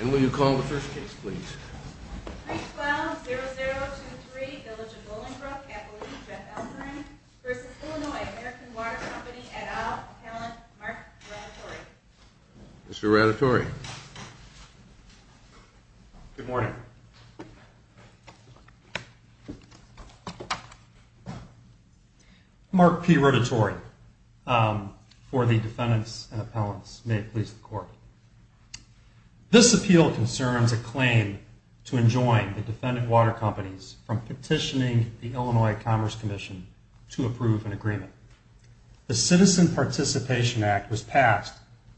And will you call the first case, please? 312-0023, Village of Bolingbrook, Appellee Jeff Elthorne v. Illinois-American Water Company, et al., Appellant Mark Radatore. Mr. Radatore. Good morning. Mark P. Radatore for the defendants and appellants. May it please the court. This appeal concerns a claim to enjoin the defendant water companies from petitioning the Illinois Commerce Commission to approve an agreement. The Citizen Participation Act was passed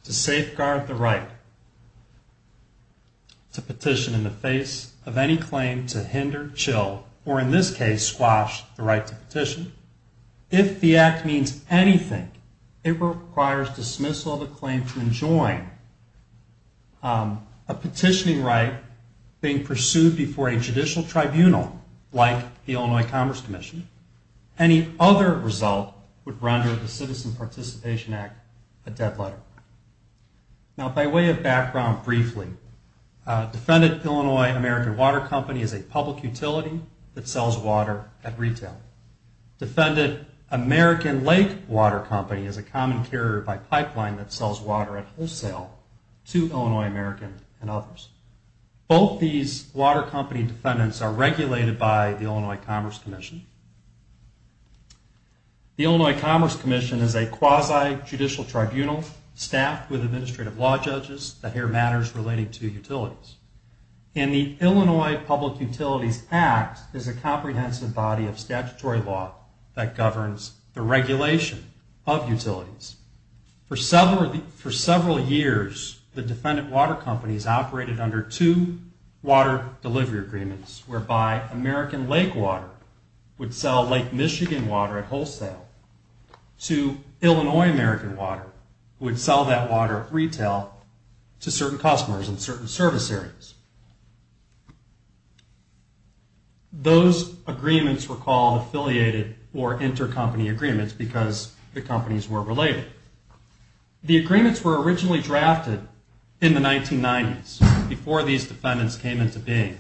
to safeguard the right to petition in the face of any claim to hinder, chill, or in this case squash the right to petition. If the act means anything, it requires dismissal of a claim to enjoin a petitioning right being pursued before a judicial tribunal like the Illinois Commerce Commission. Any other result would render the Citizen Participation Act a dead letter. Now, by way of background briefly, Defendant Illinois-American Water Company is a public utility that sells water at retail. Defendant American Lake Water Company is a common carrier by pipeline that sells water at wholesale to Illinois-American and others. Both these water company defendants are regulated by the Illinois Commerce Commission. The Illinois Commerce Commission is a quasi-judicial tribunal staffed with administrative law judges that hear matters relating to utilities. And the Illinois Public Utilities Act is a comprehensive body of statutory law that governs the regulation of utilities. For several years, the defendant water companies operated under two water delivery agreements, whereby American Lake Water would sell Lake Michigan water at wholesale to Illinois-American water, who would sell that water at retail to certain customers in certain service areas. Those agreements were called affiliated or intercompany agreements because the companies were related. The agreements were originally drafted in the 1990s, before these defendants came into being.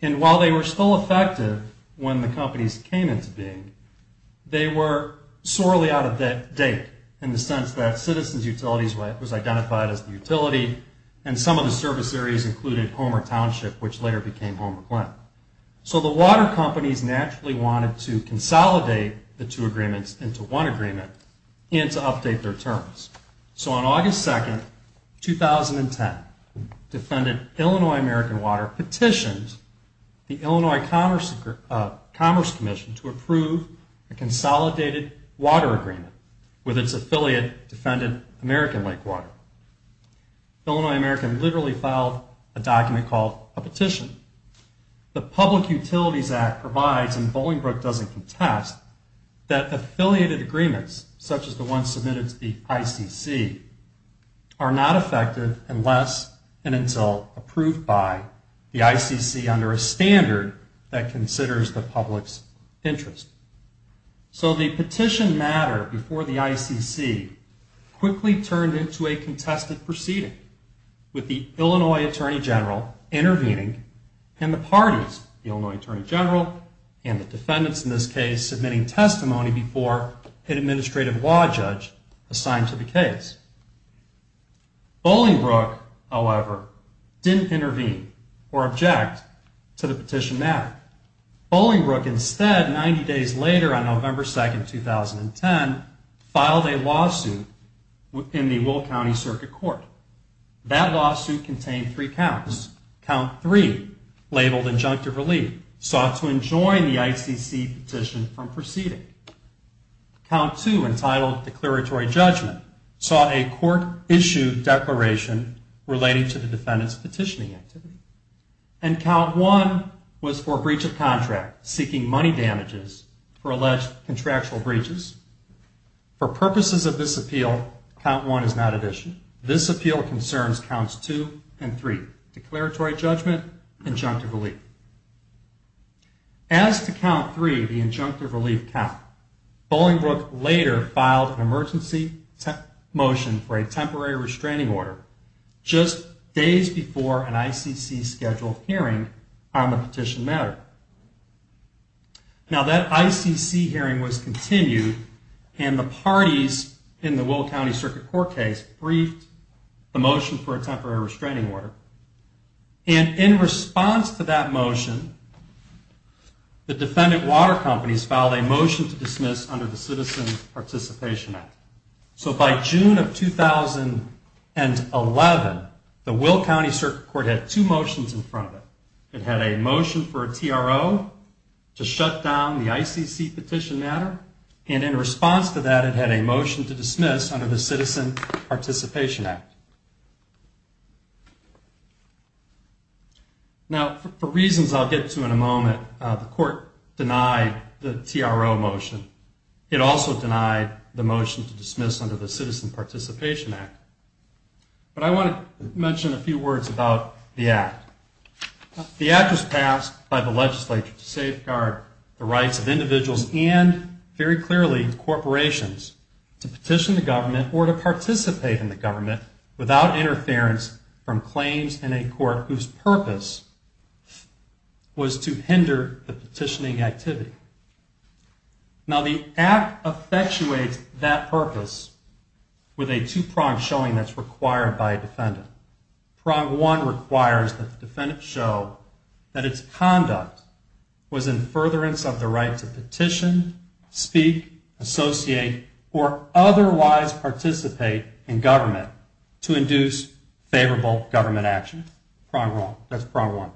And while they were still effective when the companies came into being, they were sorely out of date, in the sense that Citizens Utilities was identified as the utility and some of the service areas included Homer Township, which later became Homer Glen. So the water companies naturally wanted to consolidate the two agreements into one agreement and to update their terms. So on August 2, 2010, defendant Illinois-American Water petitioned the Illinois Commerce Commission to approve a consolidated water agreement with its affiliate defendant, American Lake Water. Illinois-American literally filed a document called a petition. The Public Utilities Act provides, and Bolingbroke doesn't contest, that affiliated agreements, such as the ones submitted to the ICC, are not effective unless and until approved by the ICC under a standard that considers the public's interest. So the petition matter before the ICC quickly turned into a contested proceeding, with the Illinois Attorney General intervening and the parties, the Illinois Attorney General and the defendants in this case, submitting testimony before an administrative law judge assigned to the case. Bolingbroke, however, didn't intervene or object to the petition matter. Bolingbroke instead, 90 days later on November 2, 2010, filed a lawsuit in the Will County Circuit Court. That lawsuit contained three counts. Count 3, labeled injunctive relief, sought to enjoin the ICC petition from proceeding. Count 2, entitled declaratory judgment, sought a court-issued declaration relating to the defendant's petitioning activity. And Count 1 was for breach of contract, seeking money damages for alleged contractual breaches. For purposes of this appeal, Count 1 is not at issue. This appeal concerns Counts 2 and 3, declaratory judgment, injunctive relief. As to Count 3, the injunctive relief count, Bolingbroke later filed an emergency motion for a temporary restraining order, just days before an ICC-scheduled hearing on the petition matter. Now that ICC hearing was continued, and the parties in the Will County Circuit Court case briefed the motion for a temporary restraining order. And in response to that motion, the defendant water companies filed a motion to dismiss under the Citizen Participation Act. So by June of 2011, the Will County Circuit Court had two motions in front of it. It had a motion for a TRO to shut down the ICC petition matter, and in response to that, it had a motion to dismiss under the Citizen Participation Act. Now, for reasons I'll get to in a moment, the court denied the TRO motion. It also denied the motion to dismiss under the Citizen Participation Act. But I want to mention a few words about the act. The act was passed by the legislature to safeguard the rights of individuals and, very clearly, corporations to petition the government or to participate in the government without interference from claims in a court whose purpose was to hinder the petitioning activity. Now the act effectuates that purpose with a two-pronged showing that's required by a defendant. Prong one requires that the defendant show that its conduct was in furtherance of the right to petition, speak, associate, or otherwise participate in government to induce favorable government action. That's prong one.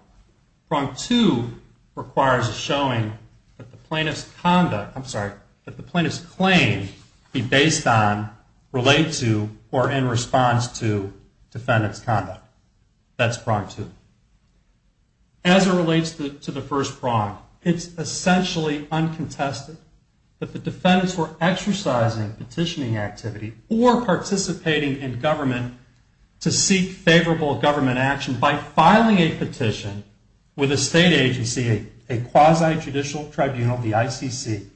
Prong two requires a showing that the plaintiff's conduct, I'm sorry, or in response to defendant's conduct. That's prong two. As it relates to the first prong, it's essentially uncontested that the defendants were exercising petitioning activity or participating in government to seek favorable government action by filing a petition with a state agency, a quasi-judicial tribunal, the ICC,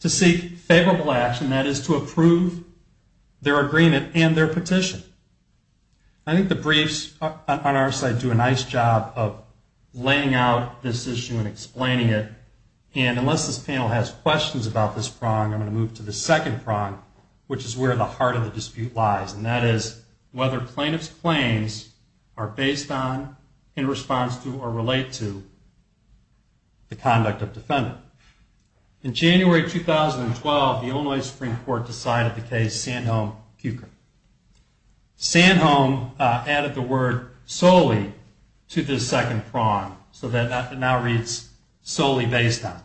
to seek favorable action, that is to approve their agreement and their petition. I think the briefs on our side do a nice job of laying out this issue and explaining it. And unless this panel has questions about this prong, I'm going to move to the second prong, which is where the heart of the dispute lies, and that is whether plaintiff's claims are based on, in response to, or relate to the conduct of defendant. In January 2012, the Illinois Supreme Court decided the case Sanholm-Cukor. Sanholm added the word solely to this second prong, so that it now reads solely based on.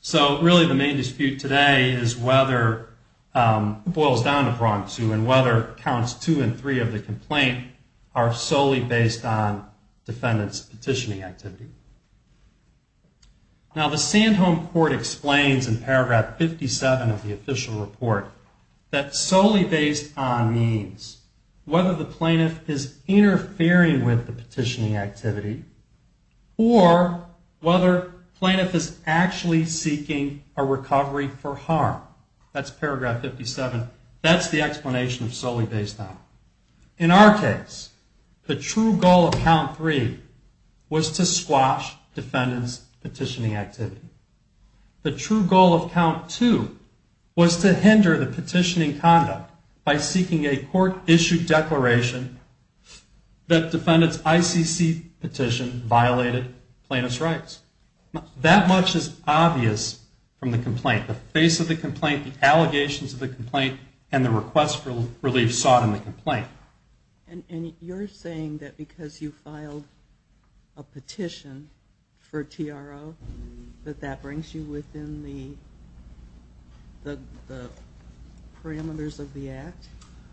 So really the main dispute today is whether it boils down to prong two and whether counts two and three of the complaint are solely based on defendant's petitioning activity. Now the Sanholm court explains in paragraph 57 of the official report that solely based on means whether the plaintiff is interfering with the petitioning activity or whether plaintiff is actually seeking a recovery for harm. That's paragraph 57. That's the explanation of solely based on. In our case, the true goal of count three was to squash defendant's petitioning activity. The true goal of count two was to hinder the petitioning conduct by seeking a court-issued declaration that defendant's ICC petition violated plaintiff's rights. That much is obvious from the complaint. The face of the complaint, the allegations of the complaint, and the request for relief sought in the complaint. And you're saying that because you filed a petition for TRO that that brings you within the parameters of the act?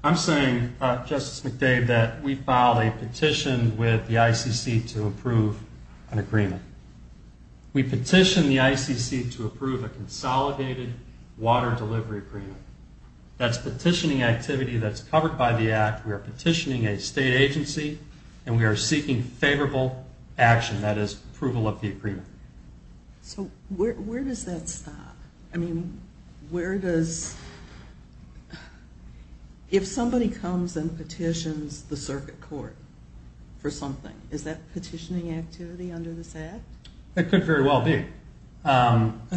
I'm saying, Justice McDade, that we filed a petition with the ICC to approve an agreement. We petitioned the ICC to approve a consolidated water delivery agreement. That's petitioning activity that's covered by the act. We are petitioning a state agency, and we are seeking favorable action. That is, approval of the agreement. So where does that stop? I mean, where does... If somebody comes and petitions the circuit court for something, is that petitioning activity under this act? It could very well be.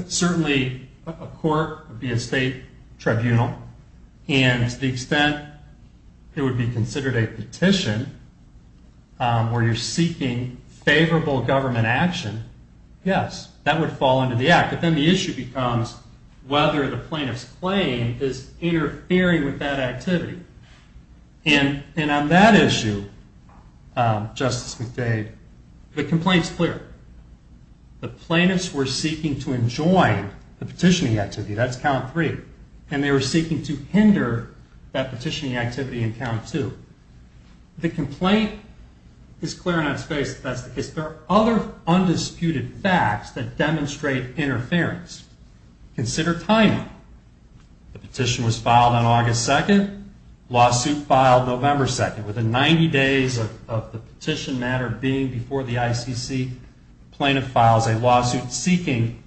Certainly, a court would be a state tribunal, and to the extent it would be considered a petition, where you're seeking favorable government action, yes, that would fall under the act. But then the issue becomes whether the plaintiff's claim is interfering with that activity. And on that issue, Justice McDade, the complaint's clear. The plaintiffs were seeking to enjoin the petitioning activity. That's count three. And they were seeking to hinder that petitioning activity in count two. The complaint is clear enough space. Is there other undisputed facts that demonstrate interference? Consider timing. The petition was filed on August 2nd, lawsuit filed November 2nd. Within 90 days of the petition matter being before the ICC, the plaintiff files a lawsuit seeking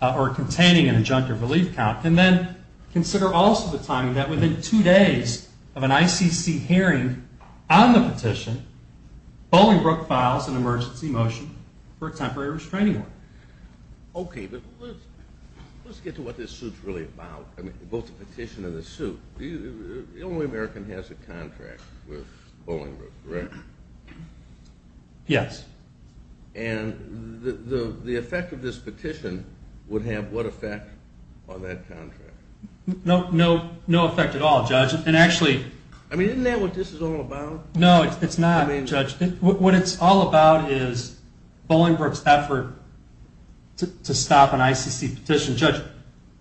or containing an adjunctive relief count. And then consider also the timing that within two days of an ICC hearing on the petition, Bolingbroke files an emergency motion for a temporary restraining order. Okay, but let's get to what this suit's really about, both the petition and the suit. The only American has a contract with Bolingbroke, correct? Yes. And the effect of this petition would have what effect on that contract? No effect at all, Judge. I mean, isn't that what this is all about? No, it's not, Judge. What it's all about is Bolingbroke's effort to stop an ICC petition. Judge,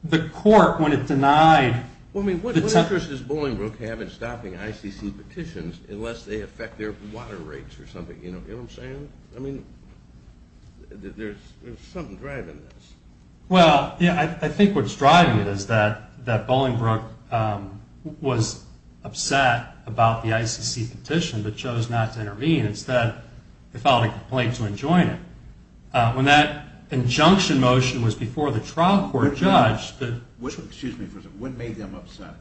the court, when it denied the temporary— Well, I mean, what interest does Bolingbroke have in stopping ICC petitions unless they affect their water rates or something, you know what I'm saying? I mean, there's something driving this. Well, yeah, I think what's driving it is that Bolingbroke was upset about the ICC petition but chose not to intervene. Instead, they filed a complaint to enjoin it. When that injunction motion was before the trial court, Judge— Excuse me for a second. What made them upset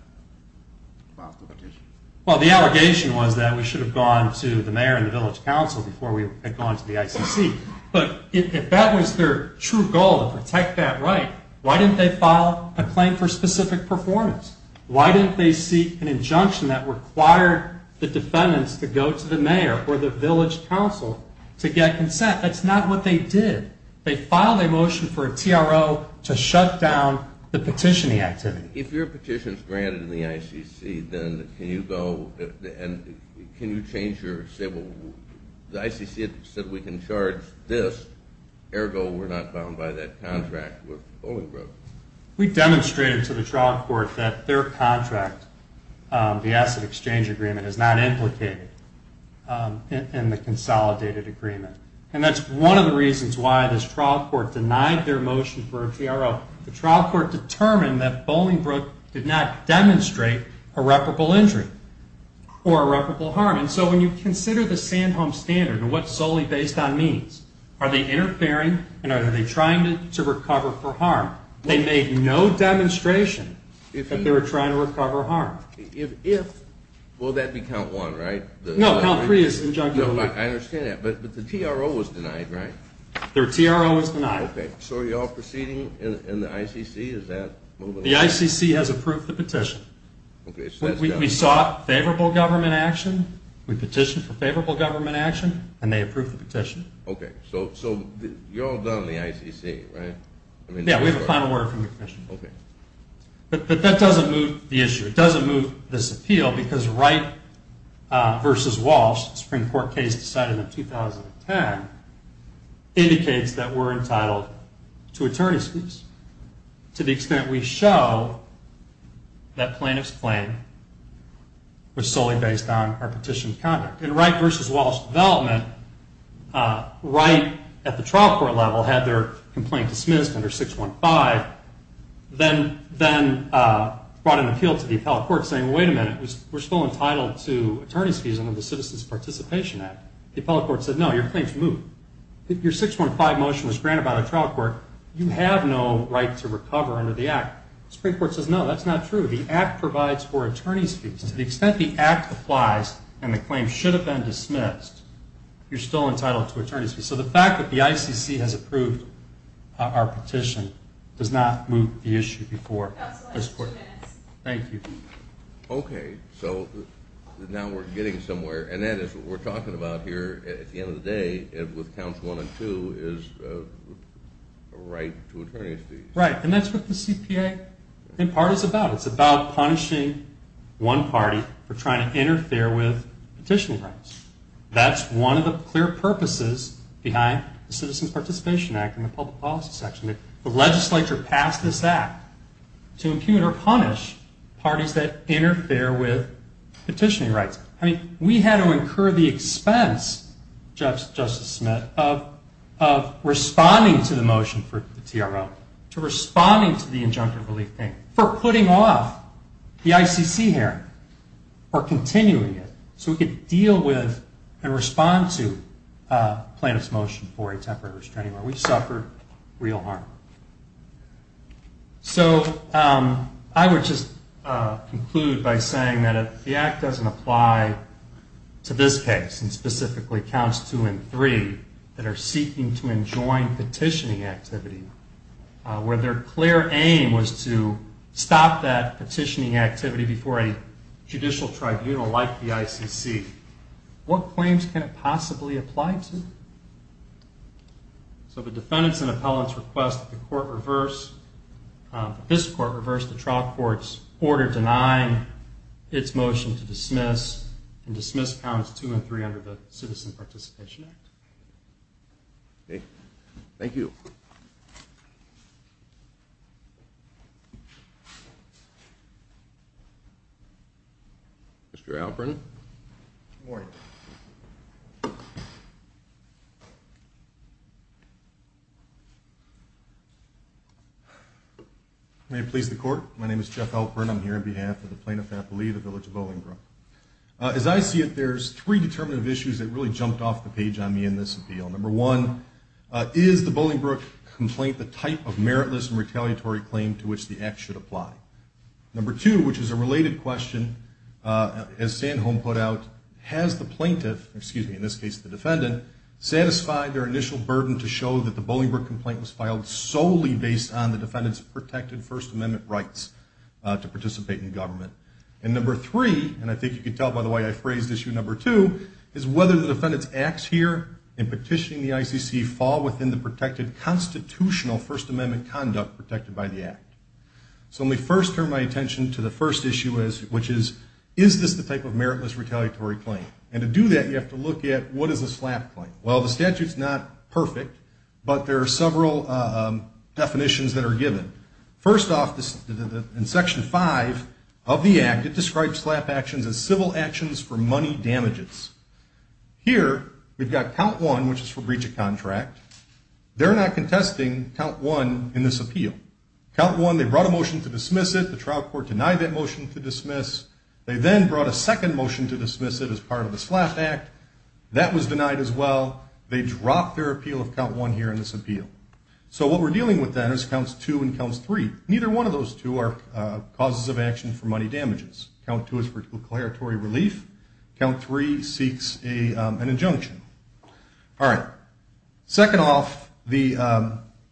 about the petition? Well, the allegation was that we should have gone to the mayor and the village council before we had gone to the ICC. But if that was their true goal, to protect that right, why didn't they file a claim for specific performance? Why didn't they seek an injunction that required the defendants to go to the mayor or the village council to get consent? That's not what they did. They filed a motion for a TRO to shut down the petitioning activity. If your petition is granted in the ICC, then can you go and can you change your civil— The ICC said we can charge this, ergo we're not bound by that contract with Bolingbroke. We demonstrated to the trial court that their contract, the asset exchange agreement, is not implicated in the consolidated agreement. And that's one of the reasons why this trial court denied their motion for a TRO. The trial court determined that Bolingbroke did not demonstrate irreparable injury or irreparable harm. And so when you consider the Sandhome Standard and what solely based on means, are they interfering and are they trying to recover for harm? They made no demonstration that they were trying to recover harm. If, will that be count one, right? No, count three is injunctive. I understand that, but the TRO was denied, right? Their TRO was denied. Okay, so are you all proceeding in the ICC? The ICC has approved the petition. We sought favorable government action, we petitioned for favorable government action, and they approved the petition. Okay, so you're all done in the ICC, right? Yeah, we have a final word from the commission. Okay. But that doesn't move the issue. It doesn't move this appeal because Wright v. Walsh, the Supreme Court case decided in 2010, indicates that we're entitled to attorney's fees to the extent we show that plaintiff's claim was solely based on our petition's conduct. In Wright v. Walsh's development, Wright, at the trial court level, had their complaint dismissed under 615, then brought an appeal to the appellate court saying, wait a minute, we're still entitled to attorney's fees under the Citizens Participation Act. The appellate court said, no, your claim's moved. Your 615 motion was granted by the trial court. You have no right to recover under the act. The Supreme Court says, no, that's not true. The act provides for attorney's fees. To the extent the act applies and the claim should have been dismissed, you're still entitled to attorney's fees. So the fact that the ICC has approved our petition does not move the issue before this court. Thank you. Okay, so now we're getting somewhere. And that is what we're talking about here at the end of the day with counts one and two is a right to attorney's fees. Right, and that's what the CPA, in part, is about. It's about punishing one party for trying to interfere with petitioning rights. That's one of the clear purposes behind the Citizens Participation Act and the public policy section, that the legislature passed this act to impugn or punish parties that interfere with petitioning rights. I mean, we had to incur the expense, Justice Smith, of responding to the motion for the TRO, to responding to the injunctive relief payment, for putting off the ICC hearing or continuing it so we could deal with and respond to plaintiff's motion for a temporary restraining order. We suffered real harm. So I would just conclude by saying that if the act doesn't apply to this case, and specifically counts two and three, that are seeking to enjoin petitioning activity, where their clear aim was to stop that petitioning activity before a judicial tribunal like the ICC, what claims can it possibly apply to? So the defendants and appellants request that the court reverse, that this court reverse the trial court's order denying its motion to dismiss and dismiss counts two and three under the Citizens Participation Act. Thank you. Mr. Alperin. Good morning. May it please the court, my name is Jeff Alperin. I'm here on behalf of the Plaintiff Appellee of the Village of Bolingbrook. As I see it, there's three determinative issues that really jumped off the page on me in this appeal. Number one, is the Bolingbrook complaint the type of meritless and retaliatory claim to which the act should apply? Number two, which is a related question, as Sandholm put out, has the plaintiff, excuse me, in this case the defendant, satisfied their initial burden to show that the Bolingbrook complaint was filed solely based on the defendant's protected First Amendment rights to participate in government. And number three, and I think you can tell by the way I phrased issue number two, is whether the defendant's acts here in petitioning the ICC fall within the protected constitutional First Amendment conduct protected by the act. So let me first turn my attention to the first issue, which is, is this the type of meritless retaliatory claim? And to do that, you have to look at what is a SLAPP claim. Well, the statute's not perfect, but there are several definitions that are given. First off, in section five of the act, it describes SLAPP actions as civil actions for money damages. Here, we've got count one, which is for breach of contract. They're not contesting count one in this appeal. Count one, they brought a motion to dismiss it. The trial court denied that motion to dismiss. They then brought a second motion to dismiss it as part of the SLAPP act. That was denied as well. They dropped their appeal of count one here in this appeal. So what we're dealing with then is counts two and counts three. Neither one of those two are causes of action for money damages. Count two is for declaratory relief. Count three seeks an injunction. All right. Second off, the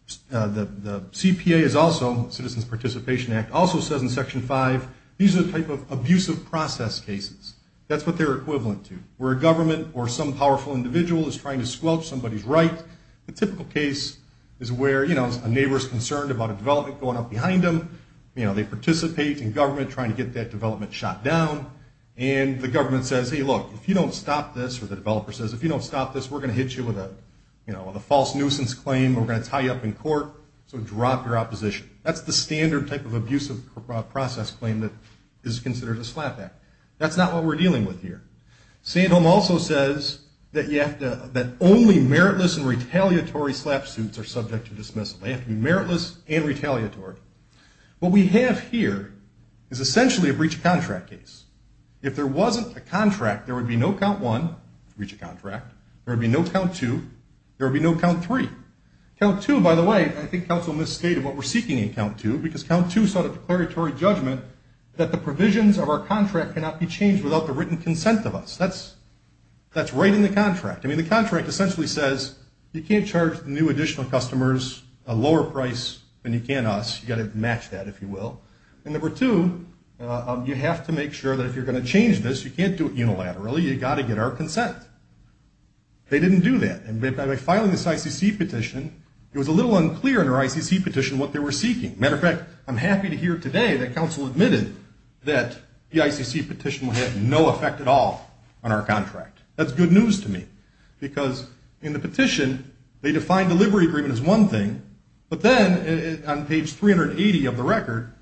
CPA is also, Citizens Participation Act, also says in section five, these are the type of abusive process cases. That's what they're equivalent to, where a government or some powerful individual is trying to squelch somebody's right. A typical case is where, you know, a neighbor's concerned about a development going up behind them. You know, they participate in government trying to get that development shot down, and the government says, hey, look, if you don't stop this, or the developer says, if you don't stop this, we're going to hit you with a false nuisance claim, or we're going to tie you up in court, so drop your opposition. That's the standard type of abusive process claim that is considered a SLAPP act. That's not what we're dealing with here. Sandholm also says that only meritless and retaliatory SLAPP suits are subject to dismissal. They have to be meritless and retaliatory. What we have here is essentially a breach of contract case. If there wasn't a contract, there would be no count one, breach of contract. There would be no count two. There would be no count three. Count two, by the way, I think counsel misstated what we're seeking in count two, because count two sought a declaratory judgment that the provisions of our contract cannot be changed without the written consent of us. That's right in the contract. I mean, the contract essentially says you can't charge new additional customers a lower price than you can us. You've got to match that, if you will. And number two, you have to make sure that if you're going to change this, you can't do it unilaterally. You've got to get our consent. They didn't do that. And by filing this ICC petition, it was a little unclear in our ICC petition what they were seeking. Matter of fact, I'm happy to hear today that counsel admitted that the ICC petition had no effect at all on our contract. That's good news to me, because in the petition, they defined delivery agreement as one thing, but then on page 380 of the record,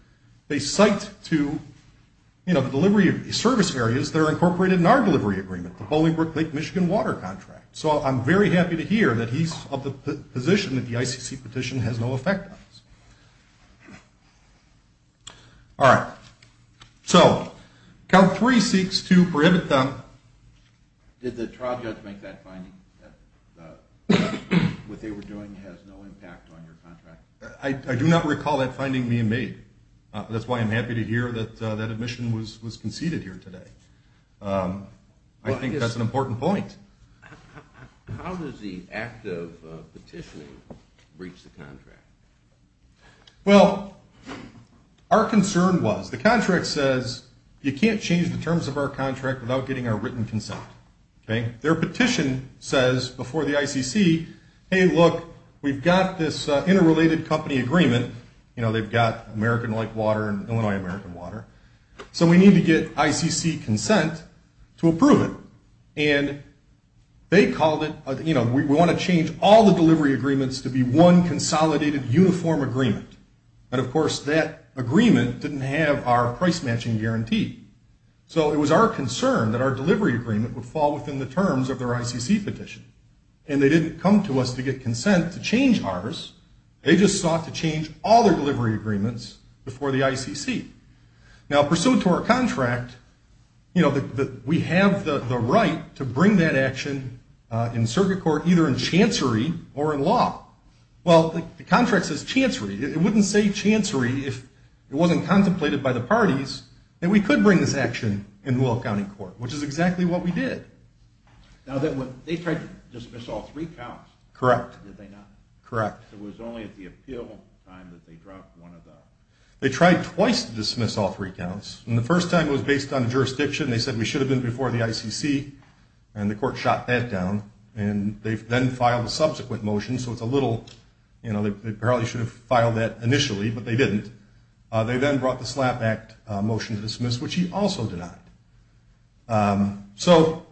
they cite to, you know, the delivery service areas that are incorporated in our delivery agreement, the Bolingbrook Lake Michigan water contract. So I'm very happy to hear that he's of the position that the ICC petition has no effect on us. All right. So count three seeks to prohibit them. Did the trial judge make that finding that what they were doing has no impact on your contract? I do not recall that finding being made. That's why I'm happy to hear that that admission was conceded here today. I think that's an important point. How does the act of petitioning breach the contract? Well, our concern was the contract says you can't change the terms of our contract without getting our written consent. Their petition says before the ICC, hey, look, we've got this interrelated company agreement. You know, they've got American Lake Water and Illinois American Water. So we need to get ICC consent to approve it. And they called it, you know, we want to change all the delivery agreements to be one consolidated uniform agreement. And, of course, that agreement didn't have our price matching guarantee. So it was our concern that our delivery agreement would fall within the terms of their ICC petition. And they didn't come to us to get consent to change ours. They just sought to change all their delivery agreements before the ICC. Now, pursuant to our contract, you know, we have the right to bring that action in circuit court, either in chancery or in law. Well, the contract says chancery. It wouldn't say chancery if it wasn't contemplated by the parties that we could bring this action in Weld County Court, which is exactly what we did. Now, they tried to dismiss all three counts. Correct. Did they not? Correct. It was only at the appeal time that they dropped one of them. They tried twice to dismiss all three counts. And the first time was based on jurisdiction. They said we should have been before the ICC. And the court shot that down. And they then filed a subsequent motion. So it's a little, you know, they probably should have filed that initially, but they didn't. They then brought the SLAPP Act motion to dismiss, which he also denied. So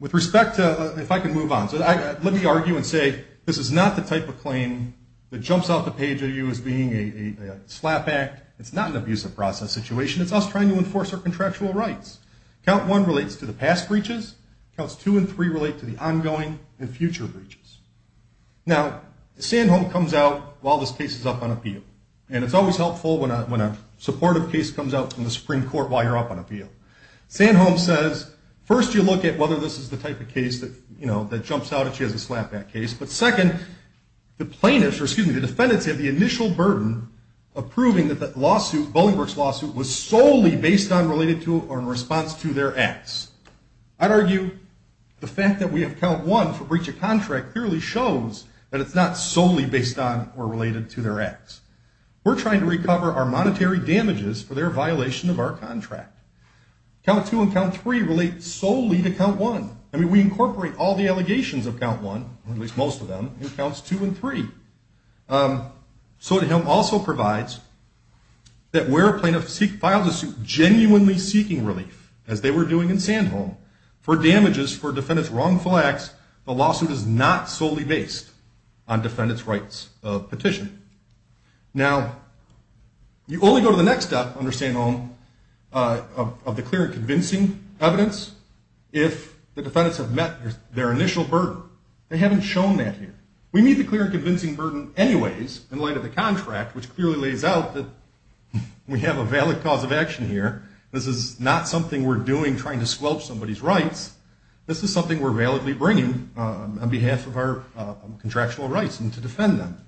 with respect to, if I can move on. So let me argue and say this is not the type of claim that jumps off the page of you as being a SLAPP Act. It's not an abusive process situation. It's us trying to enforce our contractual rights. Count one relates to the past breaches. Counts two and three relate to the ongoing and future breaches. And it's always helpful when a supportive case comes out from the Supreme Court while you're up on appeal. Sanholm says first you look at whether this is the type of case that, you know, that jumps out if she has a SLAPP Act case. But second, the plaintiffs, or excuse me, the defendants have the initial burden of proving that the lawsuit, Bolingbroke's lawsuit, was solely based on, related to, or in response to their acts. I'd argue the fact that we have count one for breach of contract clearly shows that it's not solely based on or related to their acts. We're trying to recover our monetary damages for their violation of our contract. Count two and count three relate solely to count one. I mean, we incorporate all the allegations of count one, or at least most of them, in counts two and three. Sotomayor also provides that where a plaintiff files a suit genuinely seeking relief, as they were doing in Sanholm, for damages for defendants' wrongful acts, the lawsuit is not solely based on defendants' rights of petition. Now, you only go to the next step under Sanholm of the clear and convincing evidence if the defendants have met their initial burden. They haven't shown that here. We meet the clear and convincing burden anyways in light of the contract, which clearly lays out that we have a valid cause of action here. This is not something we're doing trying to squelch somebody's rights. This is something we're validly bringing on behalf of our contractual rights and to defend them.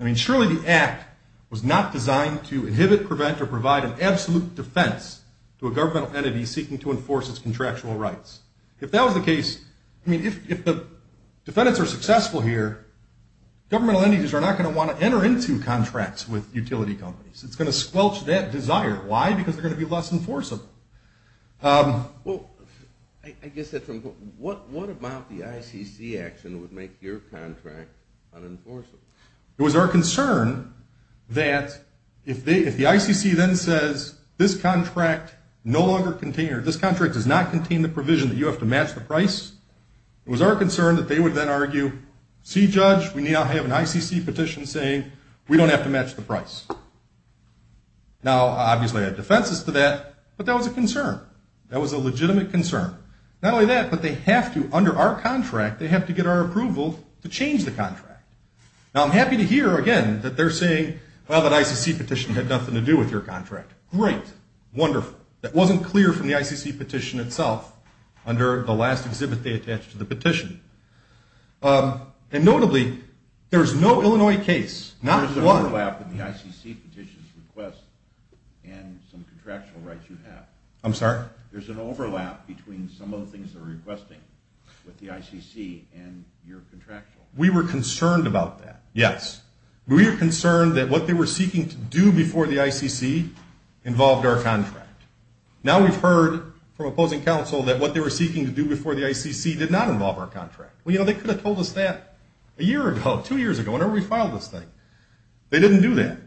I mean, surely the act was not designed to inhibit, prevent, or provide an absolute defense to a governmental entity seeking to enforce its contractual rights. If that was the case, I mean, if the defendants are successful here, governmental entities are not going to want to enter into contracts with utility companies. It's going to squelch that desire. Why? Because they're going to be less enforceable. Well, I guess that's important. What about the ICC action would make your contract unenforceable? It was our concern that if the ICC then says, this contract does not contain the provision that you have to match the price, it was our concern that they would then argue, see, Judge, we now have an ICC petition saying we don't have to match the price. Now, obviously I have defenses to that, but that was a concern. That was a legitimate concern. Not only that, but they have to, under our contract, they have to get our approval to change the contract. Now, I'm happy to hear, again, that they're saying, well, that ICC petition had nothing to do with your contract. Great. Wonderful. That wasn't clear from the ICC petition itself under the last exhibit they attached to the petition. And notably, there's no Illinois case, not one. There's an overlap in the ICC petition's request and some contractual rights you have. I'm sorry? There's an overlap between some of the things they're requesting with the ICC and your contractual. We were concerned about that, yes. We were concerned that what they were seeking to do before the ICC involved our contract. Now we've heard from opposing counsel that what they were seeking to do before the ICC did not involve our contract. Well, you know, they could have told us that a year ago, two years ago, whenever we filed this thing. They didn't do that,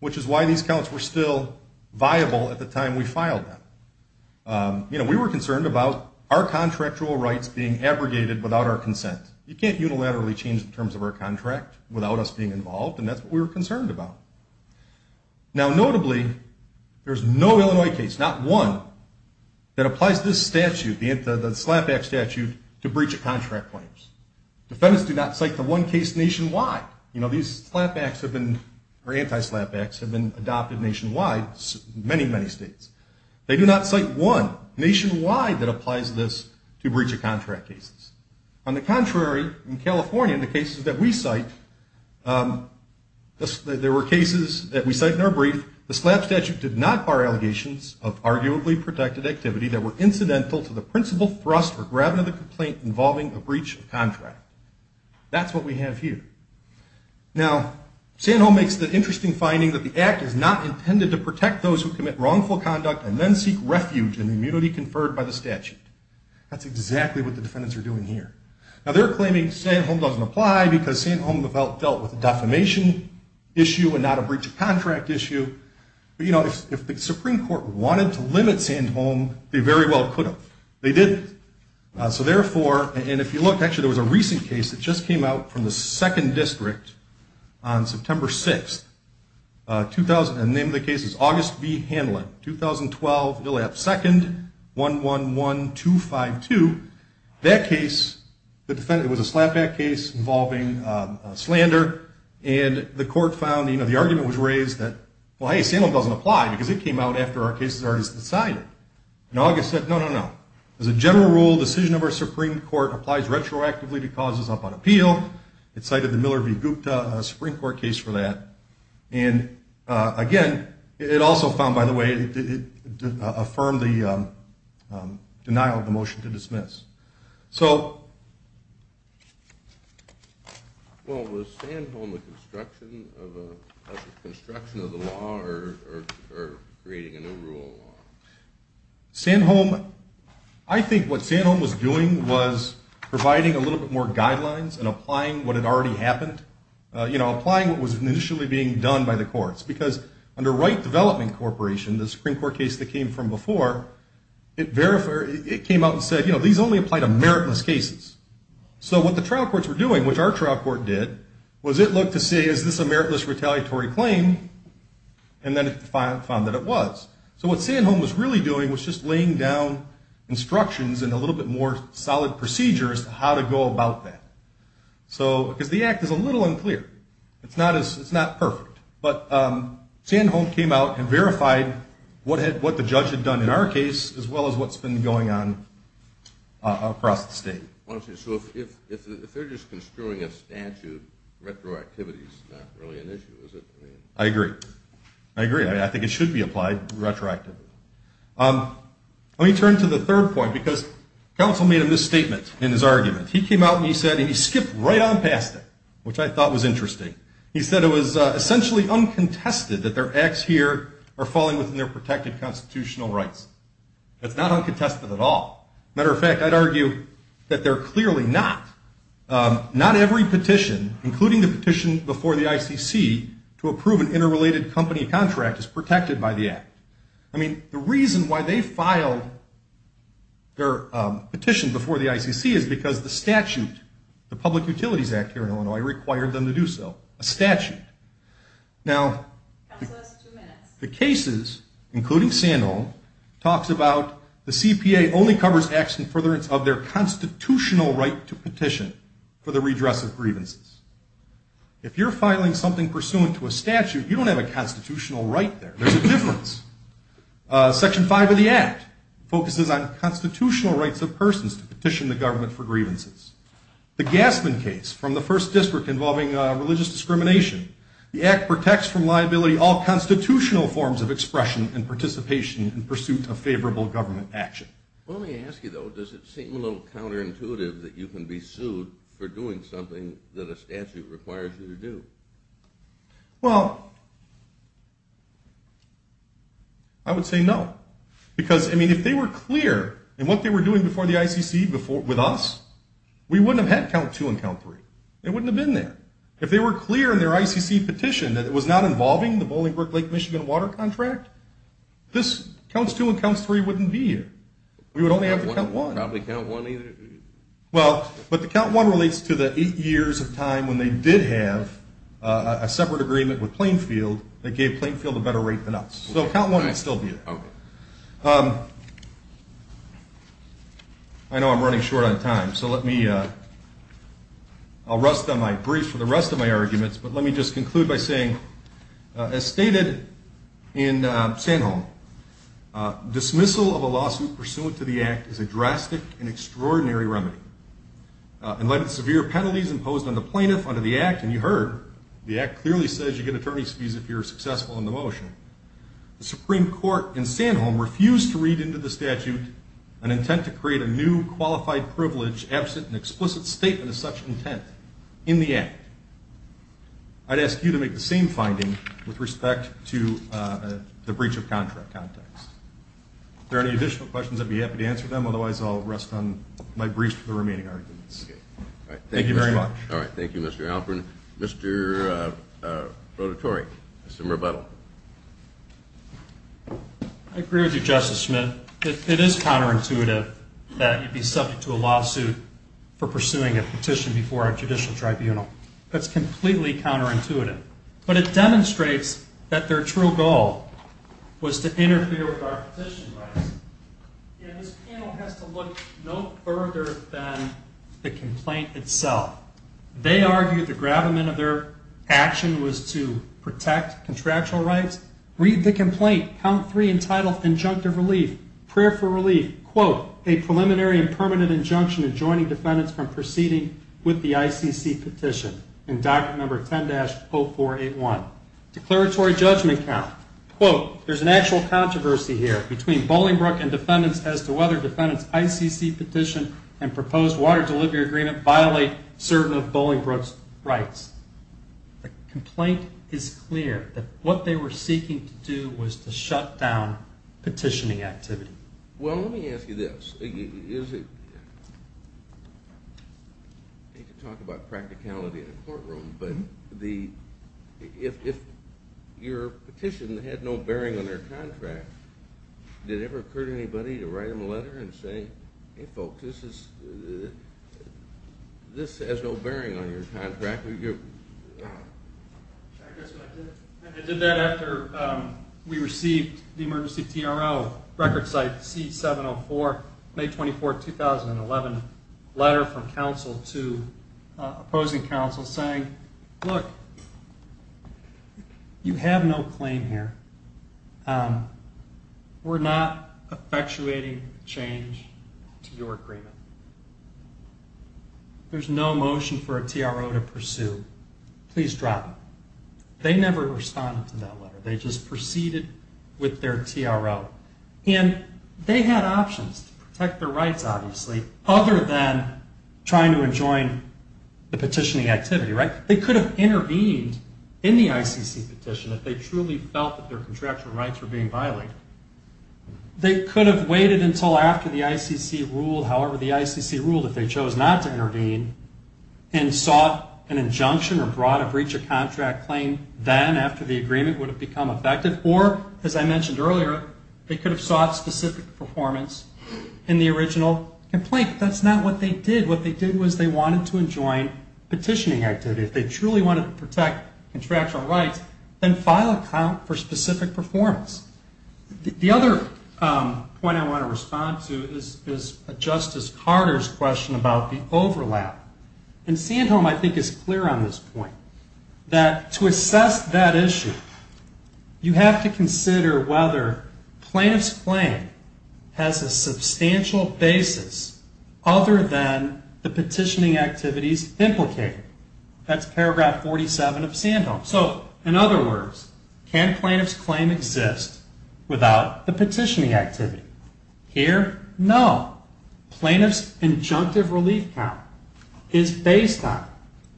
which is why these counts were still viable at the time we filed them. You know, we were concerned about our contractual rights being abrogated without our consent. You can't unilaterally change the terms of our contract without us being involved, and that's what we were concerned about. Now, notably, there's no Illinois case, not one, that applies this statute, the slapback statute, to breach of contract claims. Defendants do not cite the one case nationwide. You know, these slapbacks have been, or anti-slapbacks, have been adopted nationwide in many, many states. They do not cite one nationwide that applies this to breach of contract cases. On the contrary, in California, the cases that we cite, there were cases that we cite in our brief, the slap statute did not bar allegations of arguably protected activity that were incidental to the principal thrust or gravity of the complaint involving a breach of contract. That's what we have here. Now, Sandholm makes the interesting finding that the act is not intended to protect those who commit wrongful conduct and then seek refuge in the immunity conferred by the statute. That's exactly what the defendants are doing here. Now, they're claiming Sandholm doesn't apply because Sandholm dealt with a defamation issue and not a breach of contract issue. But, you know, if the Supreme Court wanted to limit Sandholm, they very well could have. They didn't. So, therefore, and if you look, actually there was a recent case that just came out from the 2nd District on September 6th, and the name of the case is August B. Hanlon, 2012, ILLAP 2nd, 111252. That case, it was a slapback case involving slander, and the court found, you know, the argument was raised that, well, hey, Sandholm doesn't apply because it came out after our case was already decided. And August said, no, no, no. As a general rule, decision of our Supreme Court applies retroactively to causes up on appeal. It cited the Miller v. Gupta Supreme Court case for that. And, again, it also found, by the way, it affirmed the denial of the motion to dismiss. So, well, was Sandholm the construction of the law or creating a new rule? Sandholm, I think what Sandholm was doing was providing a little bit more guidelines and applying what had already happened. You know, applying what was initially being done by the courts. Because under Wright Development Corporation, the Supreme Court case that came from before, it came out and said, you know, these only apply to meritless cases. So what the trial courts were doing, which our trial court did, was it looked to see, is this a meritless retaliatory claim? And then it found that it was. So what Sandholm was really doing was just laying down instructions and a little bit more solid procedure as to how to go about that. Because the act is a little unclear. It's not perfect. But Sandholm came out and verified what the judge had done in our case as well as what's been going on across the state. So if they're just construing a statute, retroactivity is not really an issue, is it? I agree. I agree. I think it should be applied retroactively. Let me turn to the third point because counsel made a misstatement in his argument. He came out and he said, and he skipped right on past it, which I thought was interesting. He said it was essentially uncontested that their acts here are falling within their protected constitutional rights. That's not uncontested at all. Matter of fact, I'd argue that they're clearly not. Not every petition, including the petition before the ICC, to approve an interrelated company contract is protected by the act. I mean, the reason why they filed their petition before the ICC is because the statute, the Public Utilities Act here in Illinois required them to do so, a statute. Now, the cases, including Sandholm, talks about the CPA only covers acts in furtherance of their constitutional right to petition for the redress of grievances. If you're filing something pursuant to a statute, you don't have a constitutional right there. There's a difference. Section five of the act focuses on constitutional rights of persons to petition the government for grievances. The Gassman case from the first district involving religious discrimination, the act protects from liability all constitutional forms of expression and participation in pursuit of favorable government action. Let me ask you, though, does it seem a little counterintuitive that you can be sued for doing something that a statute requires you to do? Well, I would say no. Because, I mean, if they were clear in what they were doing before the ICC with us, we wouldn't have had count two and count three. It wouldn't have been there. If they were clear in their ICC petition that it was not involving the Bolingbrook Lake, Michigan water contract, this counts two and counts three wouldn't be here. We would only have to count one. Probably count one either? Well, but the count one relates to the eight years of time when they did have a separate agreement with Plainfield that gave Plainfield a better rate than us. So count one would still be there. Okay. I know I'm running short on time, so let me – I'll rest on my brief for the rest of my arguments. But let me just conclude by saying, as stated in Sanholm, dismissal of a lawsuit pursuant to the Act is a drastic and extraordinary remedy. In light of the severe penalties imposed on the plaintiff under the Act – and you heard, the Act clearly says you get attorney's fees if you're successful in the motion – the Supreme Court in Sanholm refused to read into the statute an intent to create a new qualified privilege absent an explicit statement of such intent in the Act. I'd ask you to make the same finding with respect to the breach of contract context. If there are any additional questions, I'd be happy to answer them. Otherwise, I'll rest on my brief for the remaining arguments. Okay. Thank you very much. All right. Thank you, Mr. Alperin. Mr. Rotatori. Mr. Murbuttle. I agree with you, Justice Smith. It is counterintuitive that you'd be subject to a lawsuit for pursuing a petition before a judicial tribunal. That's completely counterintuitive. But it demonstrates that their true goal was to interfere with our petition rights. And this panel has to look no further than the complaint itself. They argue the gravamen of their action was to protect contractual rights. Read the complaint. Count 3 entitled Injunctive Relief. Prayer for Relief. Quote, a preliminary and permanent injunction adjoining defendants from proceeding with the ICC petition. In document number 10-0481. Declaratory judgment count. Quote, there's an actual controversy here between Bolingbrook and defendants as to whether defendants' ICC petition and proposed water delivery agreement violate certain of Bolingbrook's rights. The complaint is clear that what they were seeking to do was to shut down petitioning activity. Well, let me ask you this. I hate to talk about practicality in a courtroom, but if your petition had no bearing on their contract, did it ever occur to anybody to write them a letter and say, hey, folks, this has no bearing on your contract? I guess I did. I did that after we received the emergency TRO, record site C704, May 24, 2011, letter from counsel to opposing counsel saying, look, you have no claim here. We're not effectuating change to your agreement. There's no motion for a TRO to pursue. Please drop it. They never responded to that letter. They just proceeded with their TRO. And they had options to protect their rights, obviously, other than trying to enjoin the petitioning activity, right? They could have intervened in the ICC petition if they truly felt that their contractual rights were being violated. They could have waited until after the ICC ruled. However, the ICC ruled if they chose not to intervene and sought an injunction or brought a breach of contract claim then, after the agreement would have become effective. Or, as I mentioned earlier, they could have sought specific performance in the original complaint. But that's not what they did. What they did was they wanted to enjoin petitioning activity. If they truly wanted to protect contractual rights, then file a count for specific performance. The other point I want to respond to is Justice Carter's question about the overlap. And Sandholm, I think, is clear on this point. That to assess that issue, you have to consider whether plaintiff's claim has a substantial basis other than the petitioning activities implicated. That's paragraph 47 of Sandholm. So, in other words, can plaintiff's claim exist without the petitioning activity? Here, no. Plaintiff's injunctive relief count is based on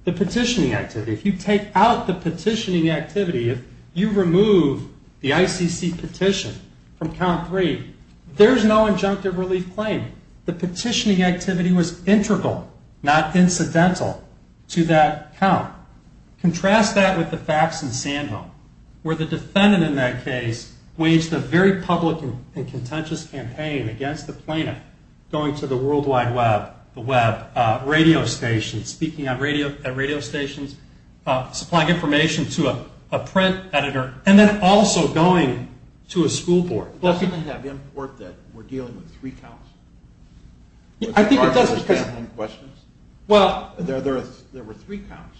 the petitioning activity. If you take out the petitioning activity, if you remove the ICC petition from count three, there's no injunctive relief claim. The petitioning activity was integral, not incidental, to that count. Contrast that with the facts in Sandholm, where the defendant in that case waged a very public and contentious campaign against the plaintiff, going to the World Wide Web, the web, radio stations, speaking at radio stations, supplying information to a print editor, and then also going to a school board. Doesn't it have import that we're dealing with three counts? I think it does because... There were three counts.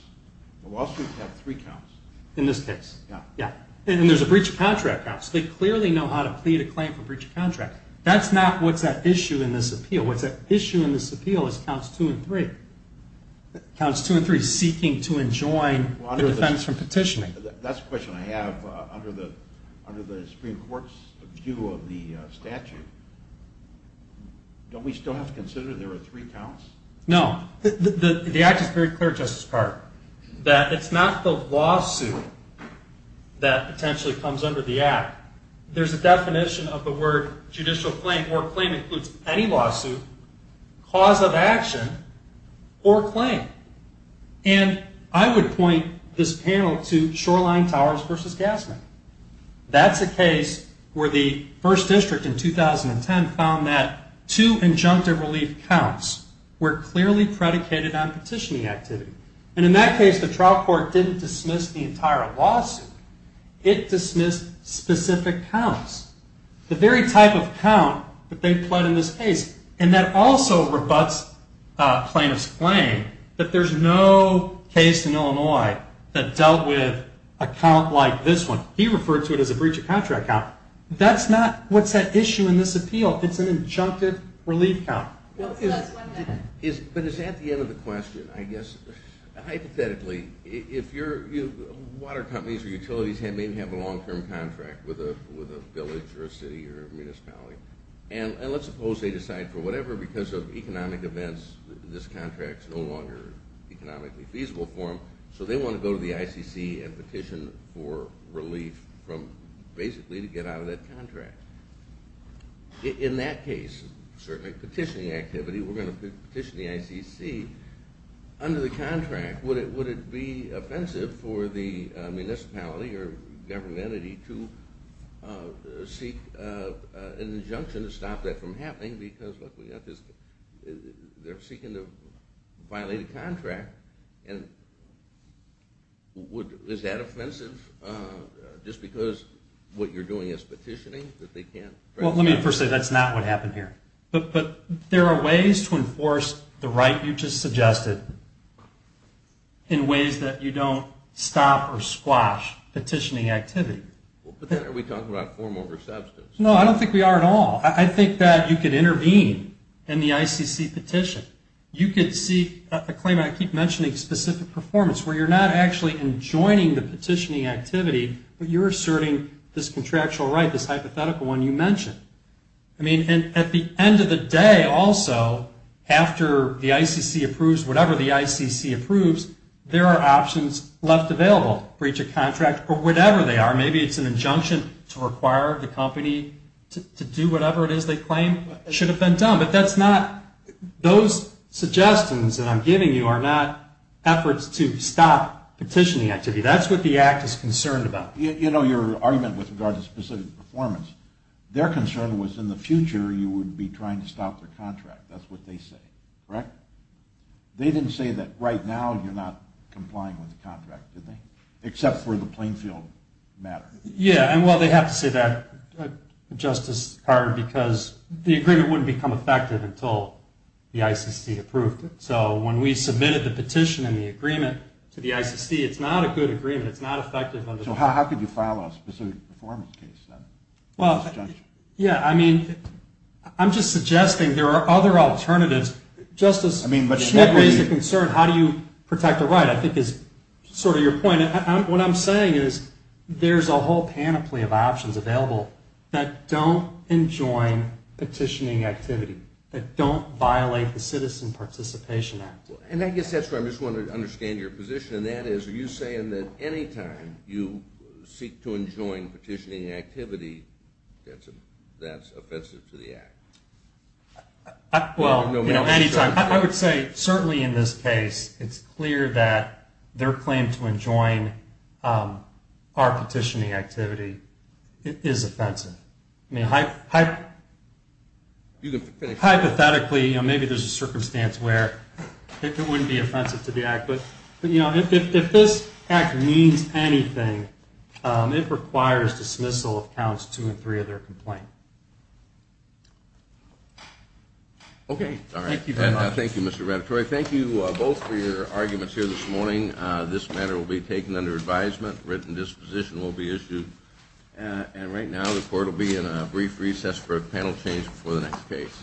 Wall Street had three counts. In this case. Yeah. And there's a breach of contract counts. They clearly know how to plead a claim for breach of contract. That's not what's at issue in this appeal. What's at issue in this appeal is counts two and three. Counts two and three, seeking to enjoin the defense from petitioning. That's a question I have under the Supreme Court's view of the statute. Don't we still have to consider there were three counts? No. The act is very clear, Justice Carr, that it's not the lawsuit that potentially comes under the act. There's a definition of the word judicial claim, or claim includes any lawsuit, cause of action, or claim. And I would point this panel to Shoreline Towers v. Gassman. That's a case where the 1st District in 2010 found that two injunctive relief counts were clearly predicated on petitioning activity. And in that case, the trial court didn't dismiss the entire lawsuit. It dismissed specific counts. The very type of count that they pled in this case. And that also rebuts plaintiff's claim that there's no case in Illinois that dealt with a count like this one. He referred to it as a breach of contract count. That's not what's at issue in this appeal. It's an injunctive relief count. But it's at the end of the question, I guess. Hypothetically, water companies or utilities may have a long-term contract with a village or a city or a municipality. And let's suppose they decide for whatever, because of economic events, this contract's no longer economically feasible for them. So they want to go to the ICC and petition for relief from basically to get out of that contract. In that case, certainly petitioning activity, we're going to petition the ICC. Under the contract, would it be offensive for the municipality or government entity to seek an injunction to stop that from happening? Because they're seeking to violate a contract. Is that offensive just because what you're doing is petitioning? Well, let me first say that's not what happened here. But there are ways to enforce the right you just suggested in ways that you don't stop or squash petitioning activity. Are we talking about form over substance? No, I don't think we are at all. I think that you could intervene in the ICC petition. You could seek a claim, and I keep mentioning specific performance, where you're not actually enjoining the petitioning activity, but you're asserting this contractual right, this hypothetical one you mentioned. I mean, at the end of the day, also, after the ICC approves whatever the ICC approves, there are options left available, breach of contract or whatever they are. Maybe it's an injunction to require the company to do whatever it is they claim should have been done. But that's not – those suggestions that I'm giving you are not efforts to stop petitioning activity. That's what the Act is concerned about. You know your argument with regard to specific performance. Their concern was in the future you would be trying to stop their contract. That's what they say, correct? They didn't say that right now you're not complying with the contract, did they? Except for the Plainfield matter. Yeah, and, well, they have to say that, Justice Carter, because the agreement wouldn't become effective until the ICC approved it. So when we submitted the petition and the agreement to the ICC, it's not a good agreement. So how could you file a specific performance case? Well, yeah, I mean, I'm just suggesting there are other alternatives. Just as Schmidt raised a concern, how do you protect a right, I think is sort of your point. What I'm saying is there's a whole panoply of options available that don't enjoin petitioning activity, that don't violate the Citizen Participation Act. And I guess that's where I'm just wanting to understand your position, and that is, are you saying that any time you seek to enjoin petitioning activity, that's offensive to the Act? Well, you know, any time. I would say certainly in this case it's clear that their claim to enjoin our petitioning activity is offensive. I mean, hypothetically, maybe there's a circumstance where it wouldn't be offensive to the Act. But, you know, if this Act means anything, it requires dismissal of Counts 2 and 3 of their complaint. Okay. Thank you very much. Thank you, Mr. Rattatore. Thank you both for your arguments here this morning. This matter will be taken under advisement. Written disposition will be issued. And right now the Court will be in a brief recess for a panel change before the next case.